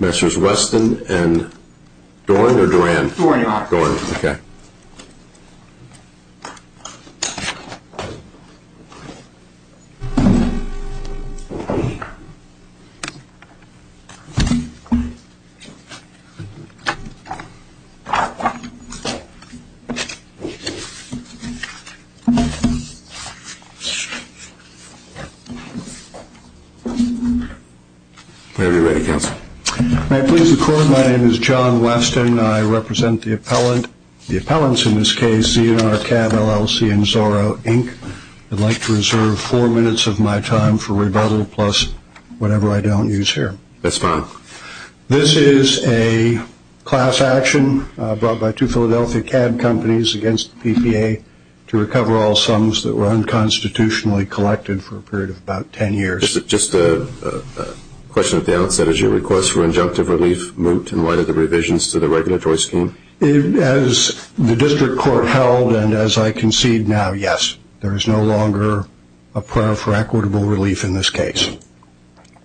Messrs. Weston and Dorn or Duran? Dorn, okay. May I please record, my name is John Weston and I represent the appellant, the appellants in this case, Z&R Cab LLC and Zorro Inc. I'd like to reserve four minutes of my time for class action brought by two Philadelphia cab companies against the PPA to recover all sums that were unconstitutionally collected for a period of about ten years. Just a question at the outset, is your request for injunctive relief moot in light of the revisions to the regulatory scheme? As the district court held and as I concede now, yes. There is no longer for equitable relief in this case.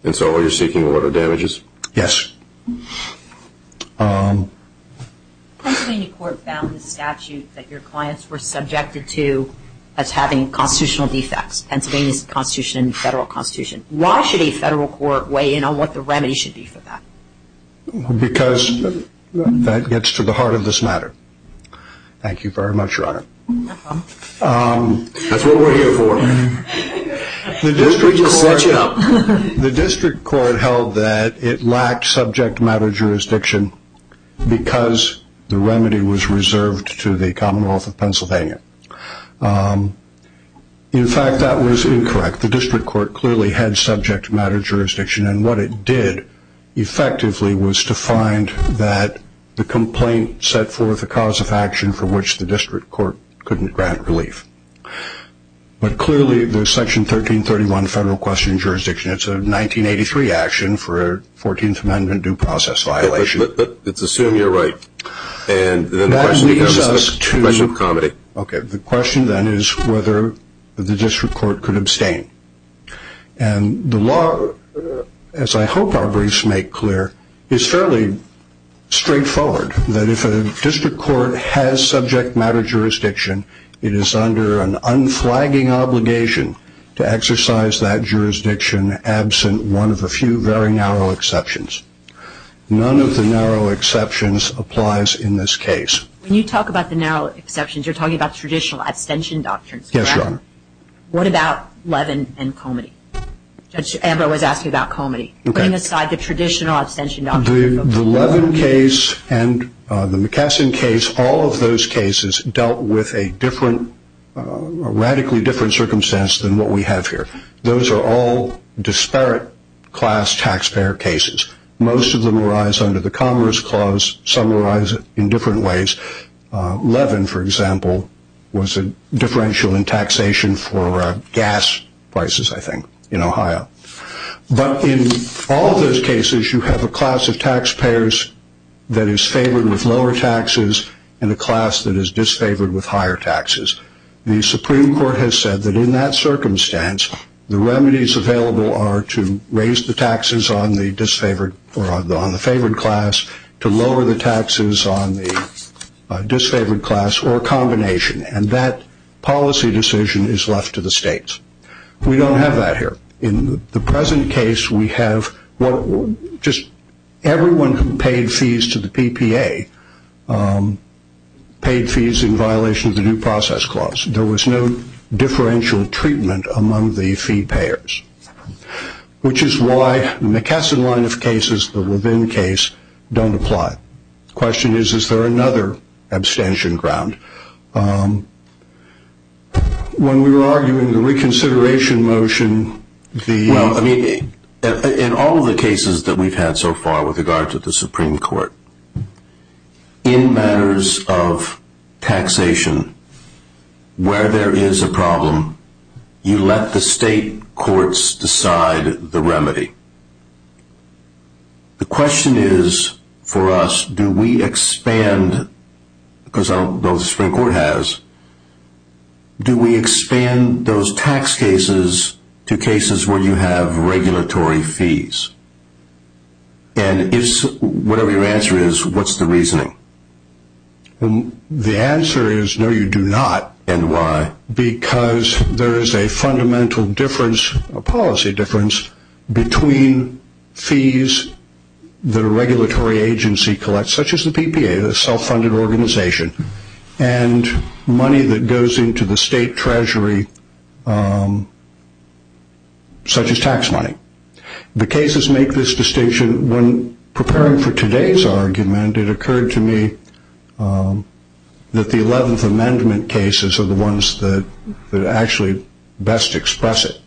And so all you're seeking are damages? Yes. The Pennsylvania court found in the statute that your clients were subjected to as having constitutional defects, Pennsylvania's constitution and federal constitution. Why should a federal court weigh in on what the remedy should be for that? Because that gets to the heart of this matter. Thank you very much, your honor. That's what we're here for. The district court held that it lacked subject matter jurisdiction because the remedy was reserved to the Commonwealth of Pennsylvania. In fact, that was incorrect. The district court clearly had subject matter jurisdiction and what it did effectively was to find that the complaint set forth a cause of action for which the district court couldn't grant relief. But clearly there's section 1331 federal question jurisdiction. It's a 1983 action for a 14th amendment due process violation. Let's assume you're right. And the question becomes a question of comedy. Okay. The question then is whether the district court could abstain. And the law, as I hope our briefs make clear, is fairly straightforward. That if a district court has subject matter jurisdiction, it is under an unflagging obligation to exercise that jurisdiction absent one of a few very narrow exceptions. None of the narrow exceptions applies in this case. When you talk about the narrow exceptions, you're talking about traditional abstention doctrines. Yes, your honor. What about Levin and Comity? Judge Amber was asking about Comity. Putting aside the traditional abstention doctrine. The Levin case and the McKesson case, all of those cases dealt with a different, radically different circumstance than what we have here. Those are all disparate class taxpayer cases. Most of them arise under the Commerce Clause. Some arise in different ways. Levin, for example, was a differential in taxation for gas prices, I think, in Ohio. But in all of those cases, you have a class of taxpayers that is favored with lower taxes and a class that is disfavored with higher taxes. The Supreme Court has said that in that circumstance, the remedies available are to raise the taxes on the favored class, to lower the taxes on the disfavored class, or a combination. And that policy decision is left to the states. We don't have that here. In the present case, we have just everyone who paid fees to the PPA paid fees in violation of the New Process Clause. There was no differential treatment among the fee payers, which is why the McKesson line of cases, the Levin case, don't apply. The question is, is there another abstention ground? When we were arguing the reconsideration motion, the... Well, I mean, in all of the cases that we've had so far with regard to the Supreme Court, in matters of taxation, where there is a problem, you let the state courts decide the remedy. The question is, for us, do we expand, because the Supreme Court has, do we expand those The answer is no, you do not. And why? Because there is a fundamental difference, a policy difference, between fees that a regulatory agency collects, such as the PPA, the self-funded organization, and money that goes into the state treasury, such as tax money. The cases make this distinction, when preparing for today's argument, it occurred to me that the 11th Amendment cases are the ones that actually best express it.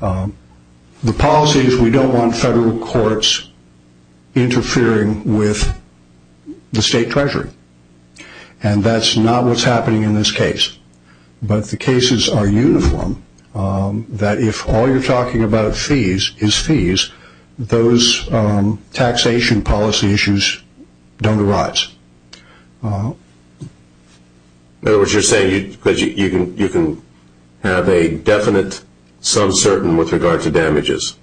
The policy is we don't want federal courts interfering with the state treasury, and that's not what's happening in this case. But the cases are uniform, that if all you're talking about are fees, is fees, those taxation policy issues don't arise. In other words, you're saying you can have a definite, some certain, with regard to damages,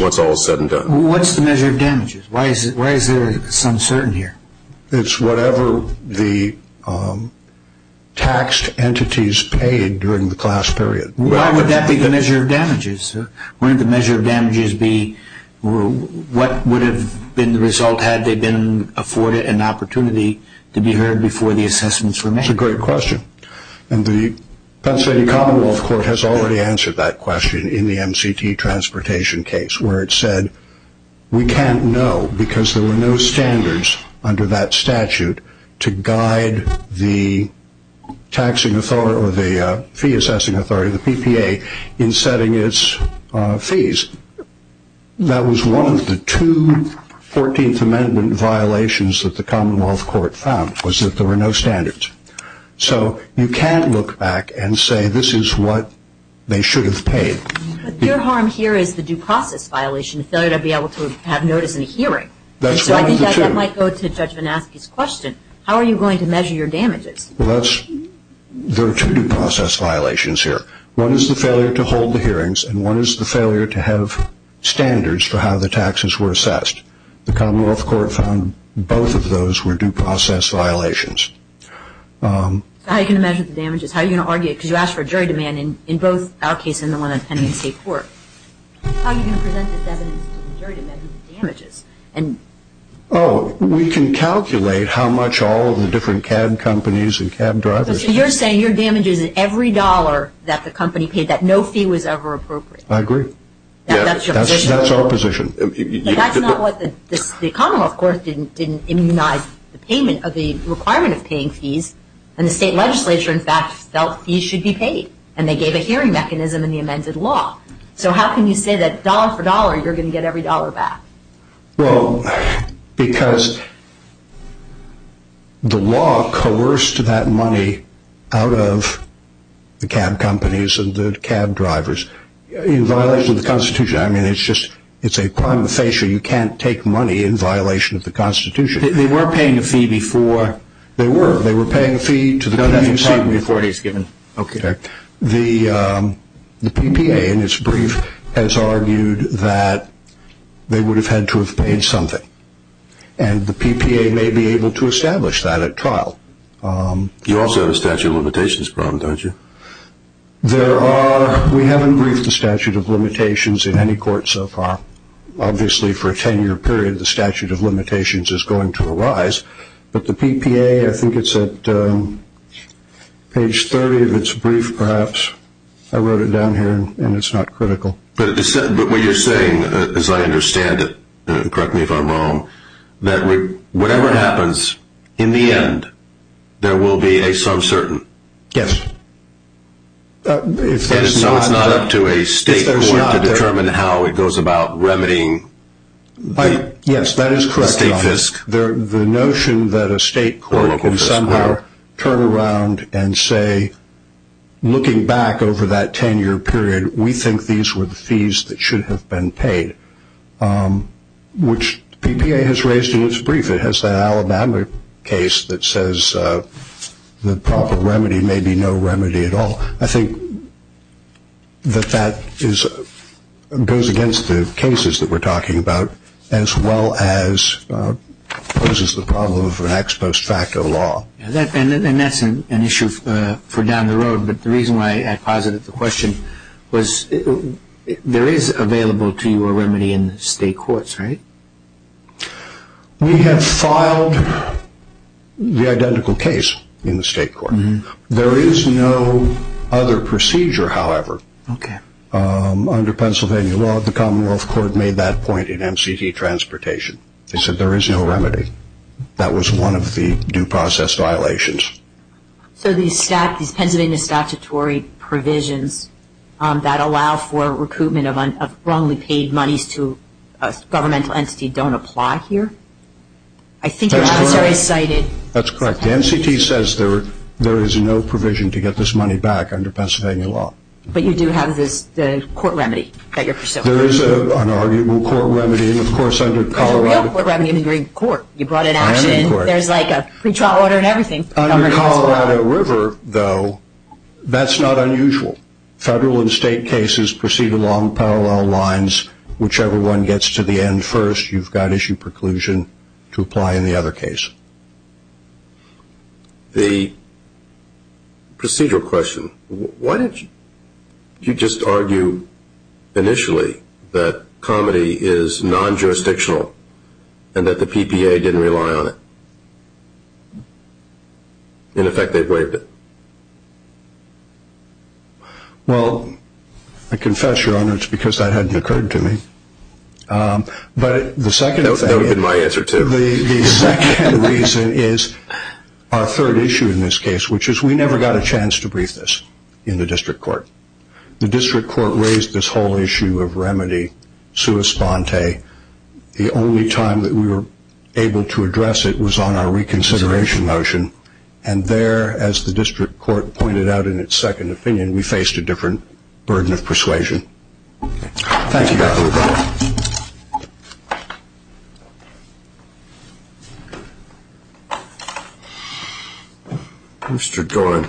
once all is said and done. What's the measure of damages? Why is there some certainty here? It's whatever the taxed entities paid during the class period. Why would that be the measure of damages? Wouldn't the measure of damages be what would have been the result had they been afforded an opportunity to be heard before the assessments were made? That's a great question. And the Pennsylvania Commonwealth Court has already answered that question in the MCT transportation case, where it said, we can't know, because there were no standards under that statute to guide the taxing authority, or the fee assessing authority or the PPA in setting its fees. That was one of the two Fourteenth Amendment violations that the Commonwealth Court found, was that there were no standards. So you can't look back and say, this is what they should have paid. But your harm here is the due process violation, the failure to be able to have notice in a hearing. That's one of the two. So I think that might go to Judge Vanasky's question, how are you going to measure your damages? Well, that's, there are two due process violations here. One is the failure to hold the hearings and one is the failure to have standards for how the taxes were assessed. The Commonwealth Court found both of those were due process violations. So how are you going to measure the damages? How are you going to argue, because you asked for a jury demand in both our case and the one in the state court. How are you going to measure the damages? Oh, we can calculate how much all of the different cab companies and cab drivers. So you're saying your damages is every dollar that the company paid, that no fee was ever appropriate. I agree. That's your position. That's our position. But that's not what the Commonwealth Court didn't immunize the payment of the requirement of paying fees. And the state legislature, in fact, felt fees should be paid. And they gave a hearing mechanism in the amended law. So how can you say that dollar for dollar you're going to get every dollar back? Well, because the law coerced that money out of the cab companies and the cab drivers in violation of the Constitution. I mean, it's just, it's a prima facie. You can't take money in violation of the Constitution. They weren't paying a fee before. They were. They were paying a fee to the community. No, that's a part before it is given. Okay. The PPA, in its brief, has argued that they would have had to have paid something. And the PPA may be able to establish that at trial. You also have a statute of limitations problem, don't you? There are. We haven't briefed the statute of limitations in any court so far. Obviously for a 10 year period, the statute of limitations is going to arise. But the PPA, I think it's at page 30 of its brief, perhaps. I wrote it down here and it's not critical. But what you're saying, as I understand it, correct me if I'm wrong, that whatever happens in the end, there will be a sub-certain. Yes. And so it's not up to a state court to determine how it goes about remedying the state fisc. The notion that a state court can somehow turn around and say, looking back over that 10 year period, we think these were the fees that should have been paid, which the PPA has raised in its brief. It has that Alabama case that says the proper remedy may be no remedy at all. I think that that is, goes against the cases that we're talking about as well as poses the problem of an ex post facto law. And that's an issue for down the road. But the reason why I posited the question was there is available to you a remedy in the state courts, right? We have filed the identical case in the state court. There is no other procedure, however, Under Pennsylvania law, the Commonwealth Court made that point in MCT transportation. They said there is no remedy. That was one of the due process violations. So these Pennsylvania statutory provisions that allow for recoupment of wrongly paid monies to a governmental entity don't apply here? I think your officer has cited That's correct. The MCT says there is no provision to get this money back under Pennsylvania law. But you do have this court remedy that you're pursuing? There is an arguable court remedy, and of course under Colorado There's a real court remedy in the Green Court. You brought it out and there's like a pre-trial order and everything. Under Colorado River, though, that's not unusual. Federal and state cases proceed along parallel lines. Whichever one gets to the end first, you've got issue preclusion to apply in the other case. The procedural question, why didn't you just argue initially that comedy is non-jurisdictional and that the PPA didn't rely on it? In effect, they braved it. Well, I confess, Your Honor, it's because that hadn't occurred to me. But the second thing That would have been my answer, too. The second reason is our third issue in this case, which is we never got a chance to brief this in the district court. The district court raised this whole issue of remedy sua sponte. The only time that we were able to address it was on our reconsideration motion. And there, as the district court pointed out in its second opinion, we faced a different burden Thank you, Your Honor. Mr. Doran.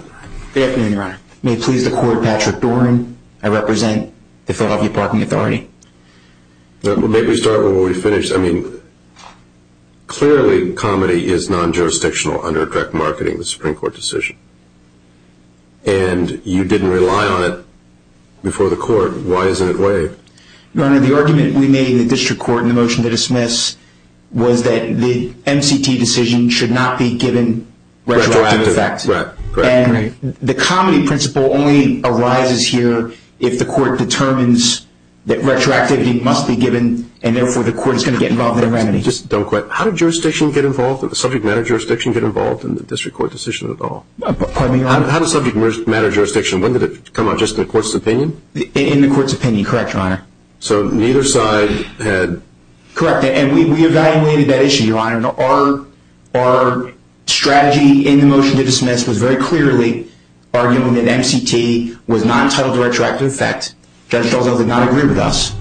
Good afternoon, Your Honor. May it please the court, Patrick Doran, I represent the Philadelphia Parking Authority. Let me start where we finished. I mean, clearly comedy is non-jurisdictional under direct marketing, the Supreme Court decision. And you didn't rely on it before the court. Why isn't it waived? Your Honor, the argument we made in the district court in the motion to dismiss was that the MCT decision should not be given retroactive effect. And the comedy principle only arises here if the court determines that retroactivity must be given and therefore the court is going to get involved in a remedy. Just don't quit. How did jurisdiction get involved, subject matter jurisdiction get involved in the district court decision at all? Pardon me, Your Honor? How does subject matter jurisdiction, when did it come out, just in the court's opinion? In the court's opinion. Correct, Your Honor. So neither side had... Correct. And we evaluated that issue, Your Honor. Our strategy in the motion to dismiss was very clearly arguing that MCT was not entitled to retroactive effect. Judge Delzello did not agree with us.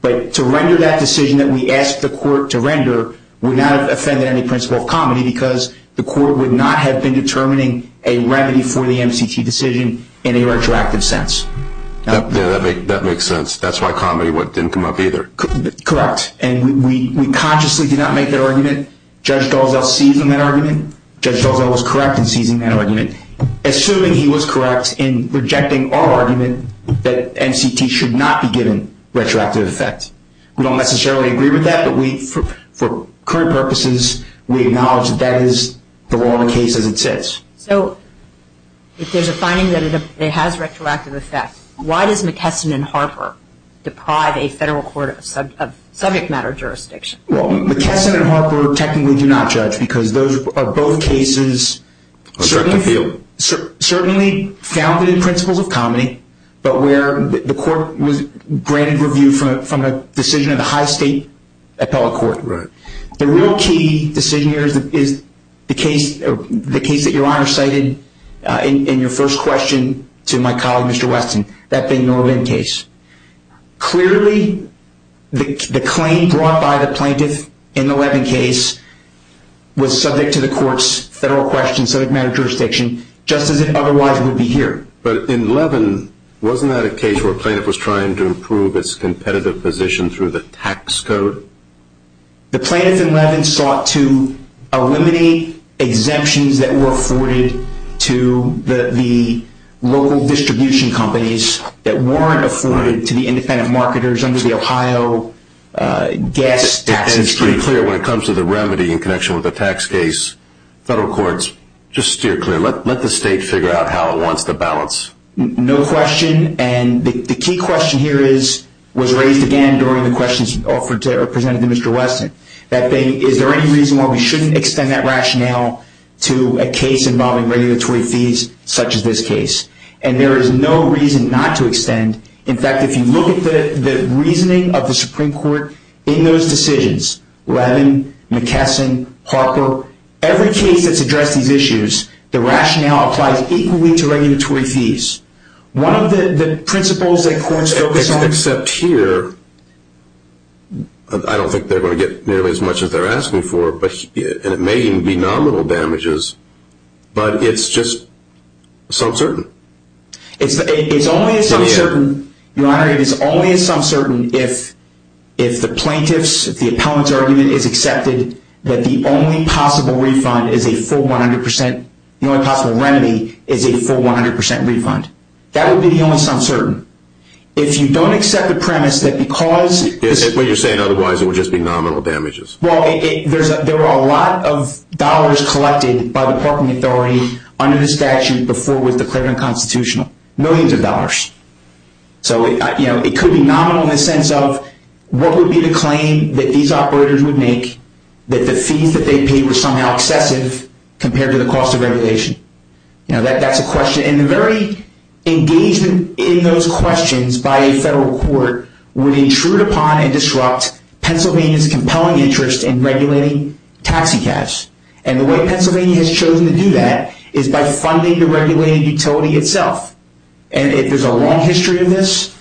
But to render that decision that we asked the court to render would not have offended any principle of comedy because the court would not have been determining a remedy for the MCT decision in a retroactive sense. Yeah, that makes sense. That's why comedy didn't come up either. Correct. And we consciously did not make that argument. Judge Delzello seized on that argument. Judge Delzello was correct in seizing that argument, assuming he was correct in rejecting our argument that MCT should not be given retroactive effect. We don't necessarily agree with that, but for current purposes, we acknowledge that that is the law of the case as it sits. So, if there's a finding that it has retroactive effect, why does McKesson and Harper deprive a federal court of subject matter jurisdiction? Well, McKesson and Harper technically do not judge because those are both cases... A direct appeal. Certainly founded in principles of comedy, but where the court was granted review from a decision of the high state appellate court. The real key decision here is the case that your honor cited in your first question to my colleague, Mr. Weston, that Bing Norbin case. Clearly, the claim brought by the plaintiff in the Levin case was subject to the court's federal question, subject matter jurisdiction, just as it otherwise would be here. But in Levin, wasn't that a case where a plaintiff was trying to improve its competitive position through the tax code? The plaintiff in Levin sought to eliminate exemptions that were afforded to the local distribution companies that weren't afforded to the independent marketers under the Ohio gas taxes. And to be clear, when it comes to the remedy in connection with the tax case, federal courts, just steer clear. Let the state figure out how it wants to balance. No question, and the key question here was raised again during the questions presented to Mr. Weston. Is there any reason why we shouldn't extend that rationale to a case involving regulatory fees such as this case? And there is no reason not to extend. In fact, if you look at the reasoning of the Supreme Court in those decisions, Levin, McKesson, Harper, every case that's addressed these issues, the rationale applies equally to regulatory fees. One of the principles that courts focus on... Except here, I don't think they're going to get nearly as much as they're asking for, and it may even be nominal damages, but it's just some certain. It's only a some certain, Your Honor, it is only a some certain if the plaintiff's, if the appellant's argument is accepted that the only possible refund is a full 100%, the only possible remedy is a full 100% refund. That would be the only some certain. If you don't accept the premise that because... What you're saying otherwise, it would just be nominal damages. Well, there are a lot of dollars collected by the parking authority Millions of dollars. So, you know, it could be nominal in the sense of what would be the claim that these operators would make that the fees that they paid were somehow excessive compared to the cost of regulation? You know, that's a question. And the very engagement in those questions by a federal court would intrude upon and disrupt Pennsylvania's compelling interest in regulating taxicabs. And the way Pennsylvania has chosen to do that is by funding the regulated utility itself. And there's a long history of this.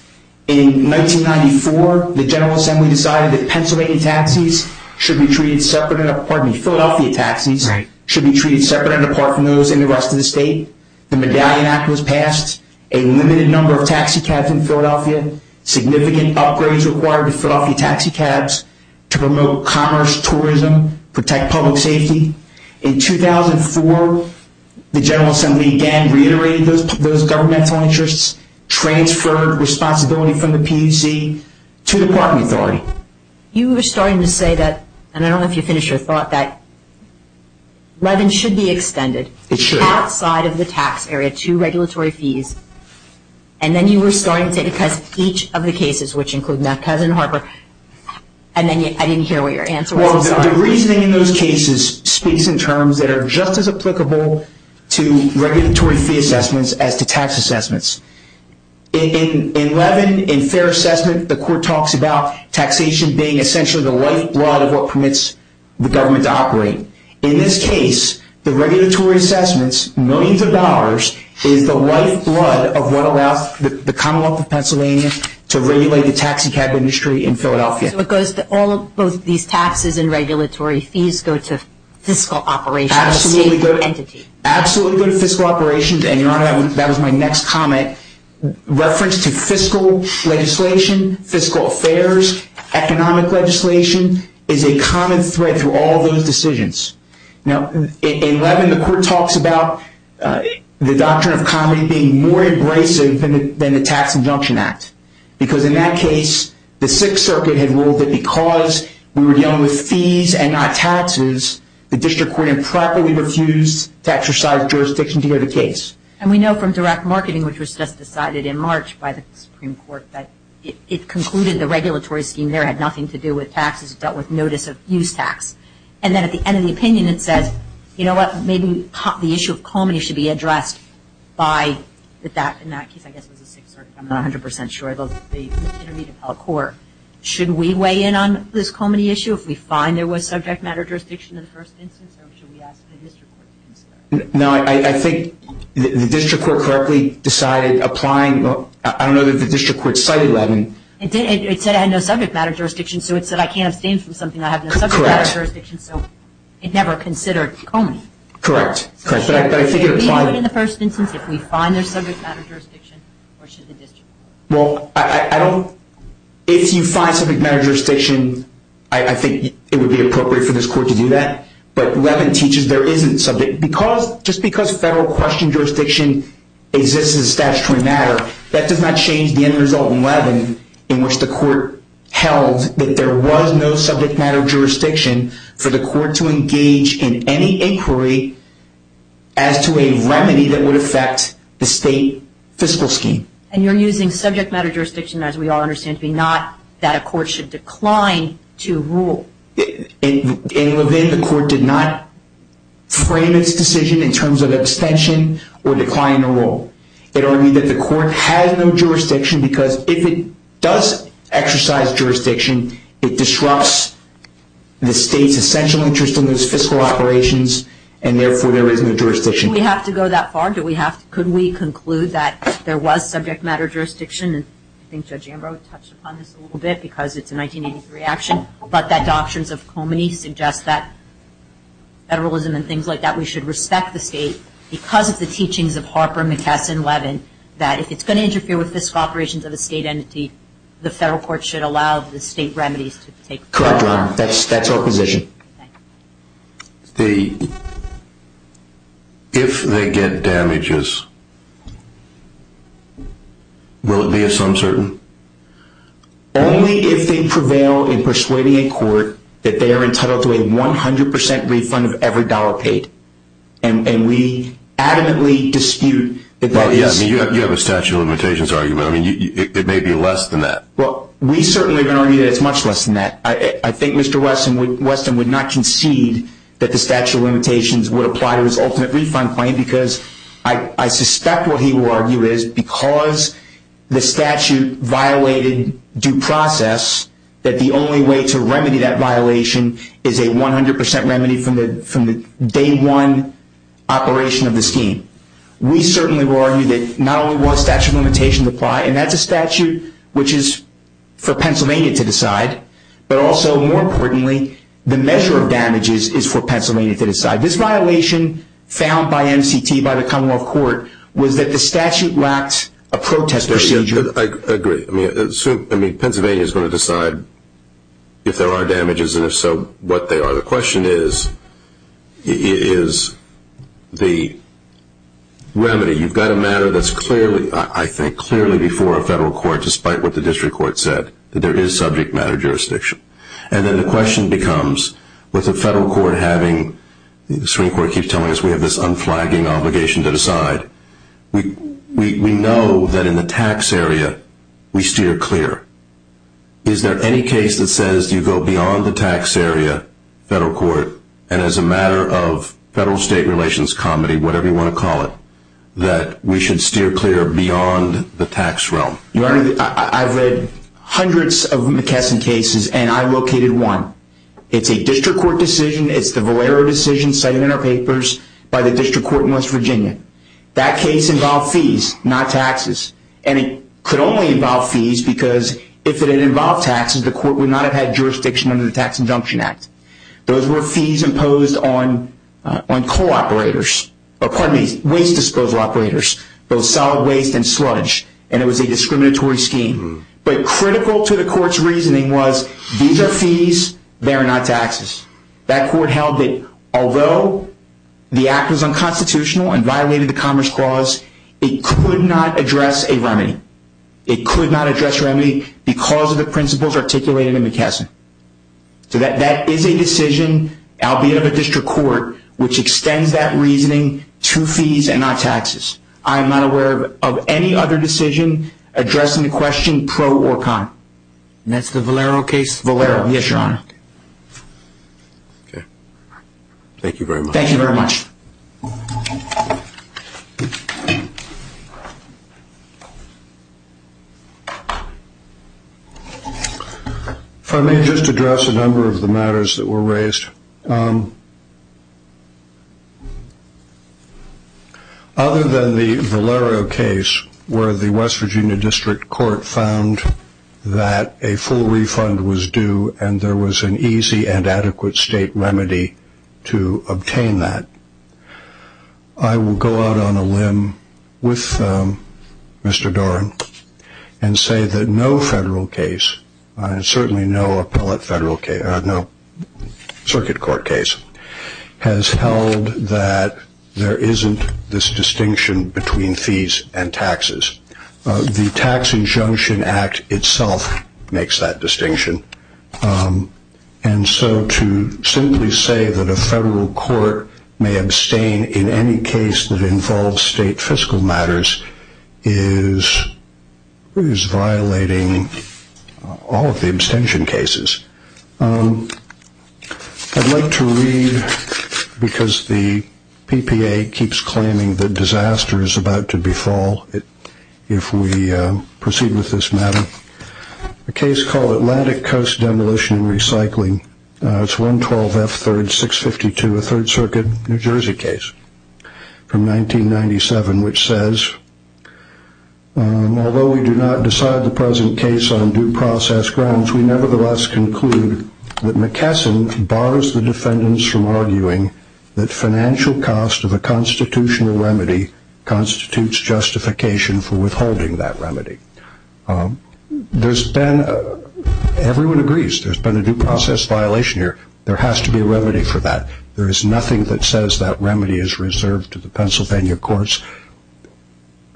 In 1994, the General Assembly decided that Pennsylvania taxis should be treated separate... Pardon me, Philadelphia taxis should be treated separate and apart from those in the rest of the state. The Medallion Act was passed. A limited number of taxicabs in Philadelphia. Significant upgrades required to Philadelphia taxicabs to promote commerce, tourism, protect public safety. In 2004, the General Assembly again reiterated those governmental interests, transferred responsibility from the PUC to the property authority. You were starting to say that, and I don't know if you finished your thought, that levin should be extended... It should. ...outside of the tax area to regulatory fees. And then you were starting to say, because each of the cases, which include Mefcaz and Harper, and then I didn't hear what your answer was... Well, the reasoning in those cases speaks in terms that are just as applicable to regulatory fee assessments as to tax assessments. In levin, in fair assessment, the court talks about taxation being essentially the lifeblood of what permits the government to operate. In this case, the regulatory assessments, millions of dollars, is the lifeblood of what allows the Commonwealth of Pennsylvania to regulate the taxicab industry in Philadelphia. So it goes to all of both these taxes and regulatory fees go to fiscal operations. Absolutely go to fiscal operations, and, Your Honor, that was my next comment. Reference to fiscal legislation, fiscal affairs, economic legislation, is a common thread through all those decisions. Now, in levin, the court talks about the doctrine of comedy being more abrasive than the Tax Injunction Act, because in that case, the Sixth Circuit had ruled that because we were dealing with fees and not taxes, the district court improperly refused to exercise jurisdiction to hear the case. And we know from direct marketing, which was just decided in March by the Supreme Court, that it concluded the regulatory scheme there had nothing to do with taxes. It dealt with notice of use tax. And then at the end of the opinion, it says, you know what, maybe the issue of comedy should be addressed by... In that case, I guess it was the Sixth Circuit. I'm not 100% sure. It was the Intermediate Appellate Court. Should we weigh in on this comedy issue if we find there was subject matter jurisdiction in the first instance, or should we ask the district court to consider it? No, I think the district court correctly decided applying... I don't know that the district court cited levin. It said it had no subject matter jurisdiction, so it said, I can't abstain from something I have no subject matter jurisdiction, so it never considered comedy. Correct, correct. Should it be levin in the first instance if we find there's subject matter jurisdiction, or should the district court? Well, I don't... If you find subject matter jurisdiction, I think it would be appropriate for this court to do that. But levin teaches there isn't subject... Because... Just because federal question jurisdiction exists as a statutory matter, that does not change the end result in levin in which the court held that there was no subject matter jurisdiction for the court to engage in any inquiry as to a remedy that would affect the state fiscal scheme. And you're using subject matter jurisdiction as we all understand to be not that a court should decline to rule. In levin, the court did not frame its decision in terms of abstention or decline to rule. It argued that the court has no jurisdiction because if it does exercise jurisdiction, it disrupts the state's essential interest in those fiscal operations, and therefore there is no jurisdiction. Do we have to go that far? Could we conclude that there was subject matter jurisdiction? And I think Judge Ambrose touched upon this a little bit because it's a 1983 action, but that Doctrines of Komeny suggest that federalism and things like that, we should respect the state because of the teachings of Harper, McKesson, Levin, that if it's going to interfere with fiscal operations of a state entity, the federal court should allow the state remedies to take place. Correct, Your Honor. That's our position. Okay. The... If they get damages, will it be of some sort? Only if they prevail in persuading a court that they are entitled to a 100% refund of every dollar paid. And we adamantly dispute that that is... Well, yeah, I mean, you have a statute of limitations argument. I mean, it may be less than that. Well, we certainly are going to argue that it's much less than that. I think Mr. Weston would not concede that the statute of limitations would apply to his ultimate refund claim because I suspect what he will argue is because the statute violated due process that the only way to remedy that violation is a 100% remedy from the day one operation of the scheme. We certainly will argue that not only will the statute of limitations apply, and that's a statute which is for Pennsylvania to decide, but also, more importantly, the measure of damages is for Pennsylvania to decide. This violation found by MCT, by the Commonwealth Court, was that the statute lacked a protest procedure. I agree. I mean, Pennsylvania is going to decide if there are damages, and if so, what they are. The question is, is the remedy. You've got a matter that's clearly, I think, clearly before a federal court, despite what the district court said, that there is subject matter jurisdiction. And then the question becomes, with the federal court having... The Supreme Court keeps telling us we have this unflagging obligation to decide. We know that in the tax area, we steer clear. Is there any case that says you go beyond the tax area, federal court, and as a matter of federal-state relations comedy, whatever you want to call it, that we should steer clear beyond the tax realm? I've read hundreds of McKesson cases, and I located one. It's a district court decision. It's the Valero decision cited in our papers by the district court in West Virginia. That case involved fees, not taxes. And it could only involve fees because if it had involved taxes, the court would not have had jurisdiction under the Tax Injunction Act. Those were fees imposed on coal operators. Pardon me, waste disposal operators, both solid waste and sludge. And it was a discriminatory scheme. But critical to the court's reasoning was these are fees, they're not taxes. That court held that although the act was unconstitutional and violated the Commerce Clause, it could not address a remedy. It could not address a remedy because of the principles articulated in McKesson. So that is a decision, albeit of a district court, which extends that reasoning to fees and not taxes. I am not aware of any other decision addressing the question pro or con. And that's the Valero case? Valero, yes, Your Honor. Okay. Thank you very much. Thank you very much. If I may just address a number of the matters that were raised. Other than the Valero case where the West Virginia District Court found that a full refund was due and there was an easy and adequate state remedy to obtain that, I will go out on a limb with Mr. Doran and say that no federal case, I will go out on a limb with Mr. Doran and say that no federal case, other than the circuit court case, has held that there isn't this distinction between fees and taxes. The Tax Injunction Act itself makes that distinction. And so to simply say that a federal court may abstain in any case that involves state fiscal matters is violating all of the abstention cases. I'd like to read because the PPA keeps claiming that disaster is about to befall if we proceed with this matter. A case called Atlantic Coast Demolition and Recycling. It's 112 F 3rd 652 a Third Circuit, New Jersey case from 1997 which says although we do not decide the present case on due process grounds, we nevertheless conclude that McKesson borrows the defendants from arguing that financial cost of a constitutional remedy constitutes justification for withholding that remedy. There's been everyone agrees there's been a due process violation here. There has to be a remedy for that. There is nothing that says that remedy is reserved to the Pennsylvania courts.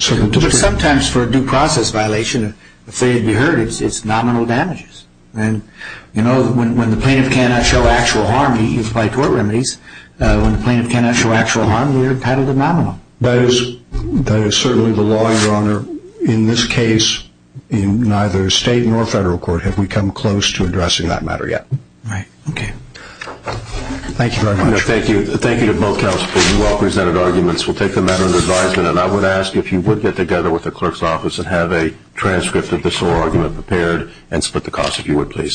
But sometimes for a due process violation if they'd be hurt, it's nominal damages. When the plaintiff cannot show actual harm he's applied to our remedies. When the plaintiff cannot show actual harm, you're entitled to nominal. That is certainly the law, your honor. In this case, in neither state nor federal court have we come close to addressing that matter yet. Thank you very much. Thank you to both counsels for your well presented arguments. We'll take the matter under advisement and I would ask if you would get together with the clerk's office and have a transcript of this whole argument prepared and split the cost if you would please.